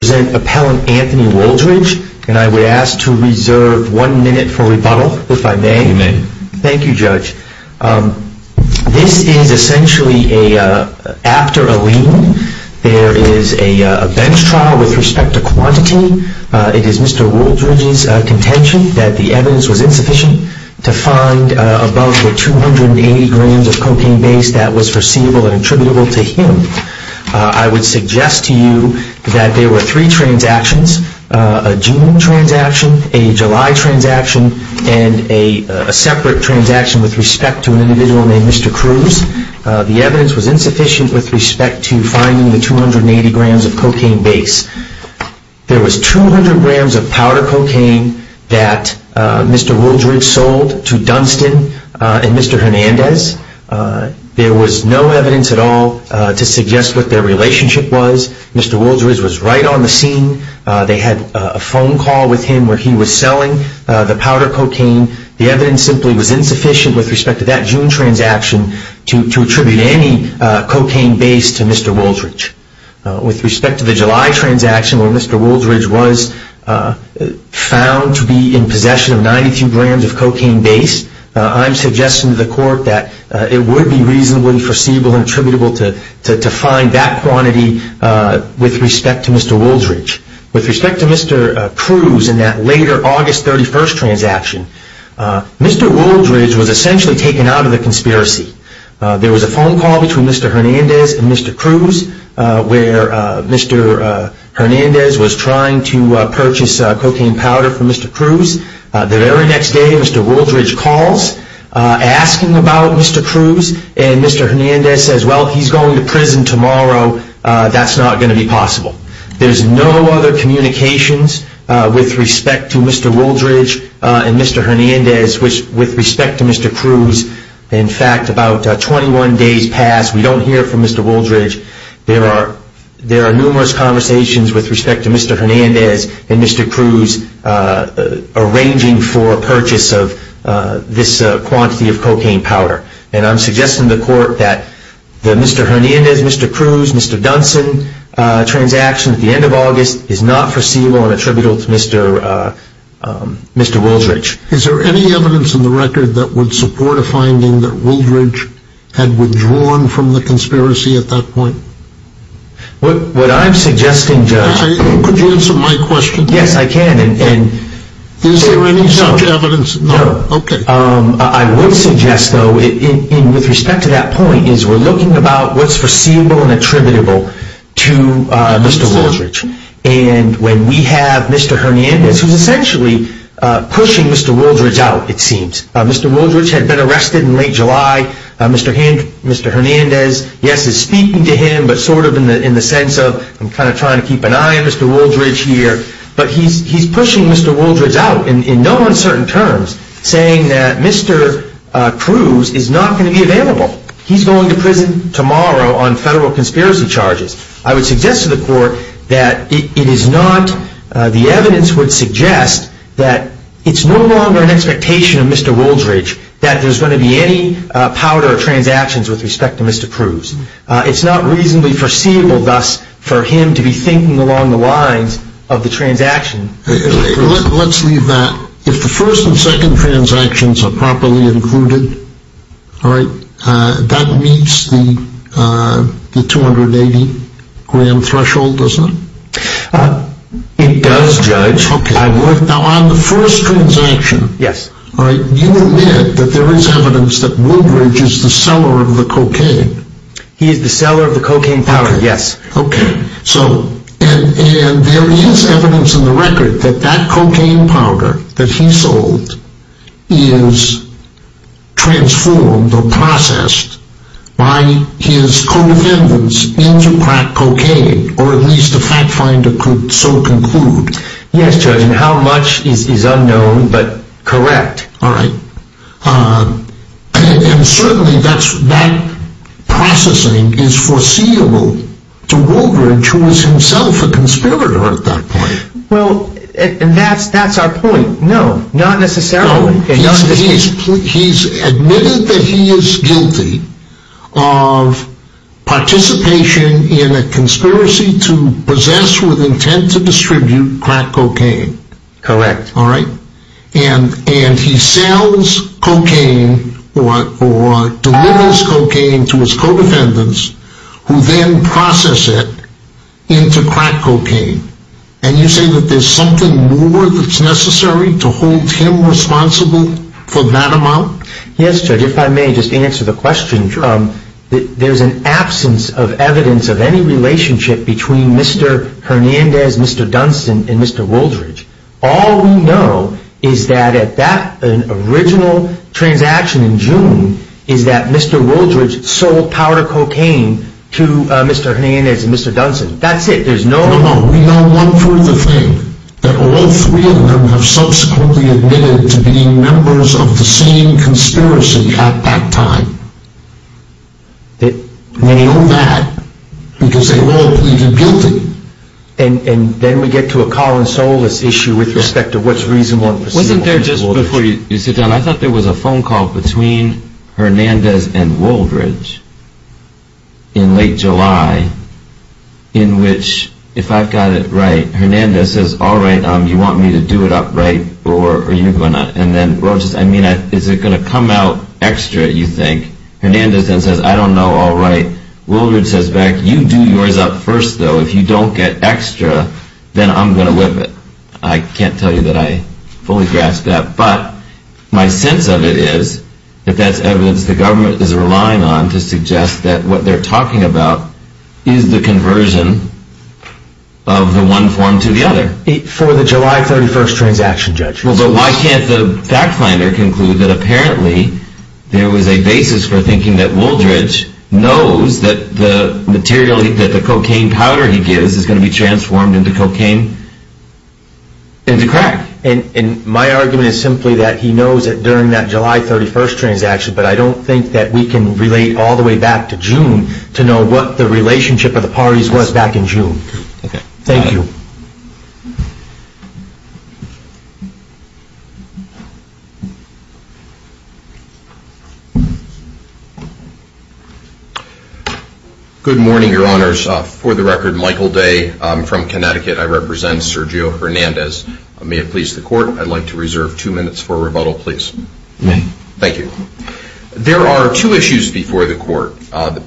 This is essentially after a lien. There is a bench trial with respect to quantity. It is Mr. Wooldridge's contention that the evidence was insufficient to find above the 280 grams of cocaine base that was foreseeable and attributable to him. I would suggest to you that there were no evidence to support the claim that Mr. Wooldridge was responsible for the use of the cocaine. There were three transactions, a June transaction, a July transaction, and a separate transaction with respect to an individual named Mr. Cruz. The evidence was insufficient with respect to finding the 280 grams of cocaine base. There was 200 grams of powder cocaine that Mr. Wooldridge sold to Dunstan and Mr. Hernandez. There was no evidence at all to suggest what their relationship was. Mr. Wooldridge was right on the scene. They had a phone call with him where he was selling the powder cocaine. The evidence simply was insufficient with respect to that June transaction to attribute any cocaine base to Mr. Wooldridge. With respect to the July transaction where Mr. Wooldridge was found to be in possession of 92 grams of cocaine base, I am suggesting to the court that it would be reasonably foreseeable and attributable to find that quantity with respect to Mr. Wooldridge. With respect to Mr. Cruz and that later August 31st transaction, Mr. Wooldridge was essentially taken out of the conspiracy. There was a phone call between Mr. Hernandez and Mr. Cruz where Mr. Hernandez was trying to purchase cocaine powder for Mr. Cruz. The very next day, Mr. Wooldridge calls asking about Mr. Cruz and Mr. Hernandez says, well, he's going to prison tomorrow. That's not going to be possible. There's no other communications with respect to Mr. Wooldridge and Mr. Hernandez with respect to Mr. Cruz. In fact, about 21 days passed, we don't hear from Mr. Wooldridge. There are numerous conversations with respect to Mr. Hernandez and Mr. Cruz arranging for a purchase of this quantity of cocaine powder. I'm suggesting to the court that the Mr. Hernandez, Mr. Cruz, Mr. Dunson transaction at the end of August is not foreseeable and attributable to Mr. Wooldridge. Is there any evidence in the record that would support a finding that Wooldridge had withdrawn from the conspiracy at that point? What I'm suggesting, Judge... Could you answer my question? Yes, I can. Is there any such evidence? No. Okay. I would suggest, though, with respect to that point, is we're looking about what's foreseeable and attributable to Mr. Wooldridge. And when we have Mr. Hernandez, who's essentially pushing Mr. Wooldridge out, it seems. Mr. Wooldridge had been arrested in late July. Mr. Hernandez, yes, is speaking to him, but sort of in the sense of I'm kind of trying to keep an eye on Mr. Wooldridge here. But he's pushing Mr. Wooldridge out in no uncertain terms, saying that Mr. Cruz is not going to be available. He's going to prison tomorrow on federal conspiracy charges. I would suggest to the court that it is not... the evidence would suggest that it's no longer an expectation of Mr. Wooldridge that there's going to be any powder transactions with respect to Mr. Cruz. It's not reasonably foreseeable, thus, for him to be thinking along the lines of the transaction with Mr. Cruz. Let's leave that. If the first and second transactions are properly included, all right, that meets the 280-gram threshold, doesn't it? It does, Judge. Now, on the first transaction, you admit that there is evidence that Wooldridge is the seller of the cocaine. He is the seller of the cocaine powder, yes. Okay. And there is evidence in the record that that cocaine powder that he sold is transformed or processed by his co-defendants into crack cocaine, or at least a fact finder could so conclude. Yes, Judge. And how much is unknown, but correct. All right. And certainly that processing is foreseeable to Wooldridge, who was himself a conspirator at that point. Well, that's our point. No, not necessarily. He's admitted that he is guilty of participation in a conspiracy to possess with intent to distribute crack cocaine. Correct. All right. And he sells cocaine or delivers cocaine to his co-defendants, who then process it into crack cocaine. And you say that there's something more that's necessary to hold him responsible for that amount? Yes, Judge, if I may just answer the question. Sure. There's an absence of evidence of any relationship between Mr. Hernandez, Mr. Dunston, and Mr. Wooldridge. All we know is that at that original transaction in June is that Mr. Wooldridge sold powder cocaine to Mr. Hernandez and Mr. Dunston. That's it. There's no... No, no. We know one further thing. That all three of them have subsequently admitted to being members of the same conspiracy at that time. They... We know that because they were all pleaded guilty. And then we get to a call and solace issue with respect to what's reasonable and perceivable. Wasn't there, just before you sit down, I thought there was a phone call between Hernandez and Wooldridge in late July, in which, if I've got it right, Hernandez says, all right, you want me to do it up, right, or are you going to... And then, well, just, I mean, is it going to come out extra, you think? Hernandez then says, I don't know, all right. Wooldridge says back, you do yours up first, though. If you don't get extra, then I'm going to whip it. I can't tell you that I fully grasp that. But my sense of it is that that's evidence the government is relying on to suggest that what they're talking about is the conversion of the one form to the other. For the July 31st transaction, Judge. Well, but why can't the fact finder conclude that apparently there was a basis for thinking that Wooldridge knows that the material, that the cocaine powder he gives is going to be transformed into cocaine, into crack? And my argument is simply that he knows that during that July 31st transaction, but I don't think that we can relate all the way back to June to know what the relationship of the parties was back in June. Thank you. Good morning, Your Honors. For the record, Michael Day. I'm from Connecticut. I represent Sergio Hernandez. May it please the Court, I'd like to reserve two minutes for rebuttal, please. Thank you. There are two issues before the Court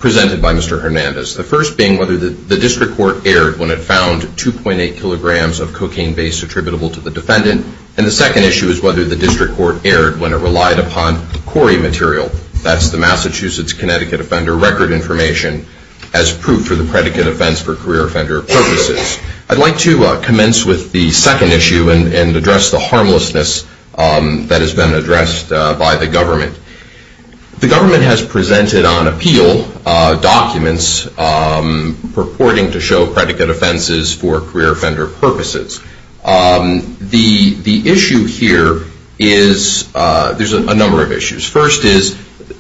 presented by Mr. Hernandez. The first being whether the district court erred when it found 2.8 kilograms of cocaine base attributable to the defendant, and the second issue is whether the district court erred when it relied upon CORI material, that's the Massachusetts Connecticut Offender Record Information, as proof for the predicate offense for career offender purposes. I'd like to commence with the second issue and address the harmlessness that has been addressed by the government. The government has presented on appeal documents purporting to show predicate offenses for career offender purposes. The issue here is, there's a number of issues. First is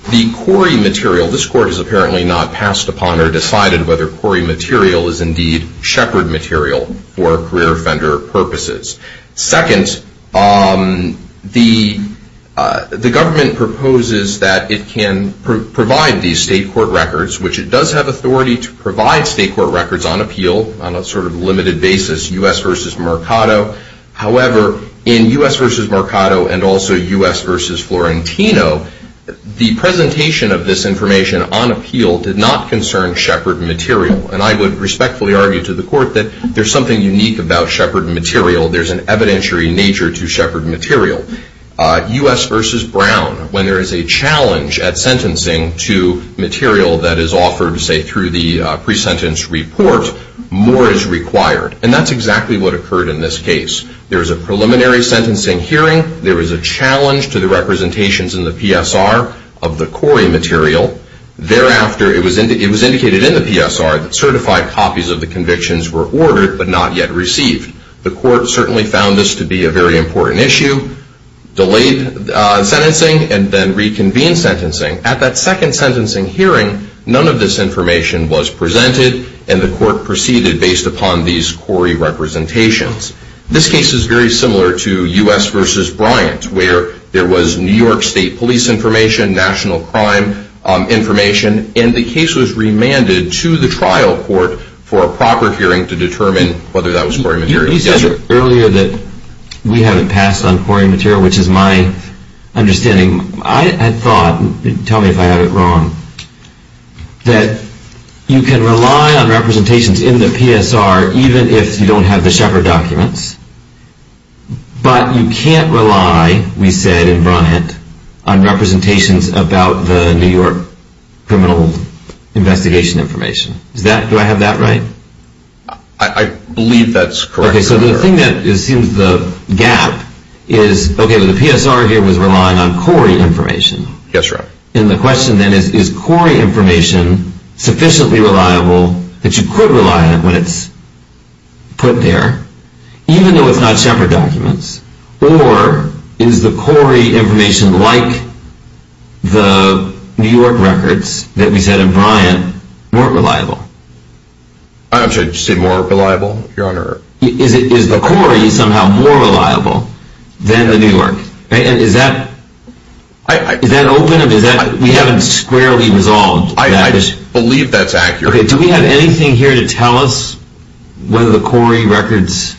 the CORI material, this Court has apparently not passed upon or decided whether CORI material is indeed shepherd material for career offender purposes. Second, the government proposes that it can provide these state court records, which it does have authority to provide state court records on appeal on a sort of limited basis, U.S. v. Mercado. However, in U.S. v. Mercado and also U.S. v. Florentino, the presentation of this information on appeal did not concern shepherd material, and I would respectfully argue to the Court that there's something unique about shepherd material. There's an evidentiary nature to shepherd material. U.S. v. Brown, when there is a challenge at sentencing to material that is offered, say, through the pre-sentence report, more is required, and that's exactly what occurred in this case. There was a preliminary sentencing hearing. There was a challenge to the representations in the PSR of the CORI material. Thereafter, it was indicated in the PSR that certified copies of the convictions were ordered but not yet received. The Court certainly found this to be a very important issue, delayed sentencing, and then reconvened sentencing. At that second sentencing hearing, none of this information was presented, and the Court proceeded based upon these CORI representations. This case is very similar to U.S. v. Bryant, where there was New York State police information, national crime information, and the case was remanded to the trial court for a proper hearing to determine whether that was CORI material. You said earlier that we haven't passed on CORI material, which is my understanding. I had thought, tell me if I have it wrong, that you can rely on representations in the PSR even if you don't have the shepherd documents, but you can't rely, we said in Bryant, on representations about the New York criminal investigation information. Do I have that right? I believe that's correct. Okay, so the thing that assumes the gap is, okay, the PSR here was relying on CORI information. Yes, sir. And the question then is, is CORI information sufficiently reliable that you could rely on it when it's put there, even though it's not shepherd documents? Or is the CORI information like the New York records that we said in Bryant weren't reliable? I'm sorry, did you say more reliable, Your Honor? Is the CORI somehow more reliable than the New York? And is that open or is that, we haven't squarely resolved that issue. I believe that's accurate. Okay, do we have anything here to tell us whether the CORI records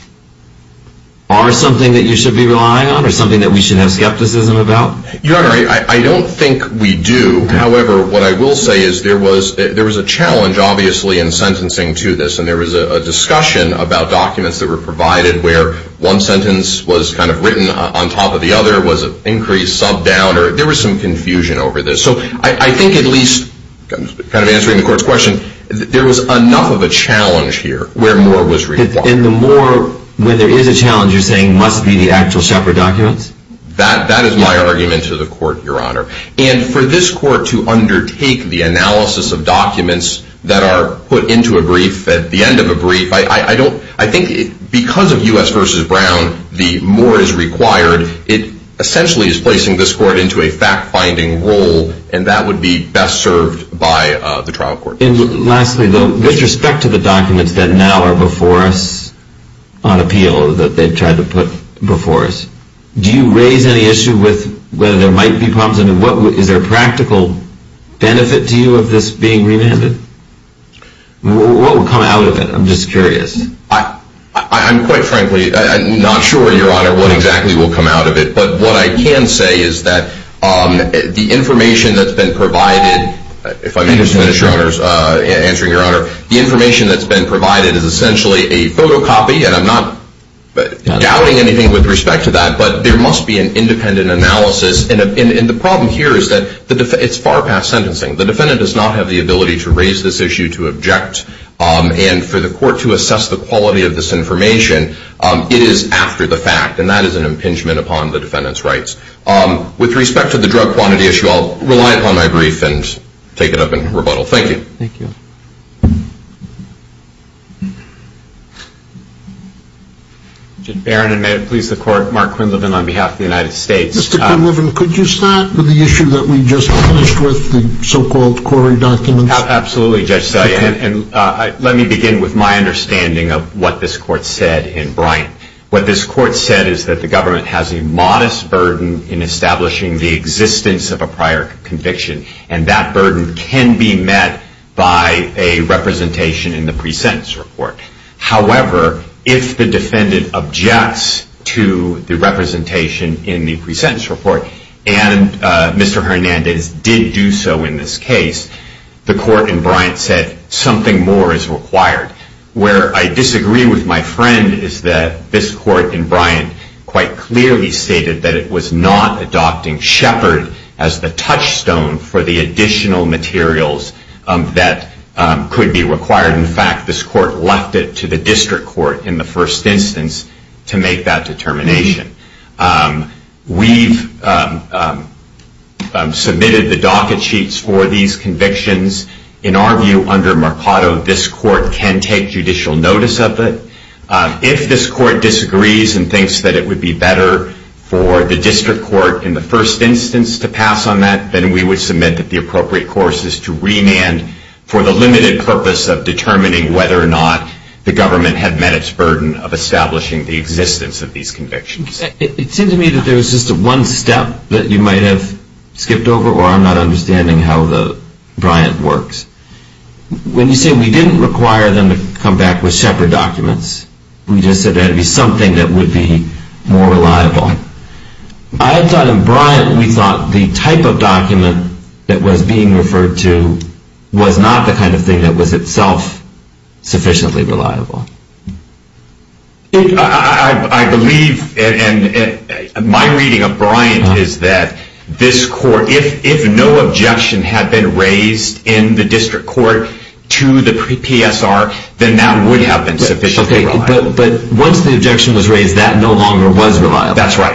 are something that you should be relying on or something that we should have skepticism about? Your Honor, I don't think we do. However, what I will say is there was a challenge, obviously, in sentencing to this, and there was a discussion about documents that were provided where one sentence was kind of written on top of the other, was it increased, subbed down, there was some confusion over this. So I think at least, kind of answering the court's question, there was enough of a challenge here where more was required. And the more, when there is a challenge, you're saying must be the actual shepherd documents? That is my argument to the court, Your Honor. And for this court to undertake the analysis of documents that are put into a brief at the end of a brief, I think because of U.S. v. Brown, the more is required, it essentially is placing this court into a fact-finding role, and that would be best served by the trial court. And lastly, though, with respect to the documents that now are before us on appeal that they've tried to put before us, do you raise any issue with whether there might be problems? I mean, is there a practical benefit to you of this being remanded? What will come out of it? I'm just curious. I'm quite frankly not sure, Your Honor, what exactly will come out of it. But what I can say is that the information that's been provided, if I may just finish, Your Honor, answering Your Honor, the information that's been provided is essentially a photocopy, and I'm not doubting anything with respect to that, but there must be an independent analysis. And the problem here is that it's far past sentencing. The defendant does not have the ability to raise this issue, to object, and for the court to assess the quality of this information, it is after the fact, and that is an impingement upon the defendant's rights. With respect to the drug quantity issue, I'll rely upon my brief and take it up in rebuttal. Thank you. Thank you. Mr. Barron, and may it please the Court, Mark Quinlivan on behalf of the United States. Mr. Quinlivan, could you start with the issue that we just finished with, the so-called quarry documents? Absolutely, Judge Steyer, and let me begin with my understanding of what this Court said in Bryant. What this Court said is that the government has a modest burden in establishing the existence of a prior conviction, and that burden can be met by a representation in the pre-sentence report. However, if the defendant objects to the representation in the pre-sentence report, and Mr. Hernandez did do so in this case, the Court in Bryant said something more is required. Where I disagree with my friend is that this Court in Bryant quite clearly stated that it was not adopting Shepard as the touchstone for the additional materials that could be required. In fact, this Court left it to the district court in the first instance to make that determination. We've submitted the docket sheets for these convictions. In our view, under Mercado, this Court can take judicial notice of it. If this Court disagrees and thinks that it would be better for the district court in the first instance to pass on that, then we would submit that the appropriate course is to remand for the limited purpose of determining whether or not the government had met its burden of establishing the existence of these convictions. It seems to me that there was just one step that you might have skipped over, or I'm not understanding how the Bryant works. When you say we didn't require them to come back with Shepard documents, we just said there had to be something that would be more reliable. I thought in Bryant we thought the type of document that was being referred to was not the kind of thing that was itself sufficiently reliable. I believe, and my reading of Bryant is that this Court, if no objection had been raised in the district court to the PSR, But once the objection was raised, that no longer was reliable. That's right.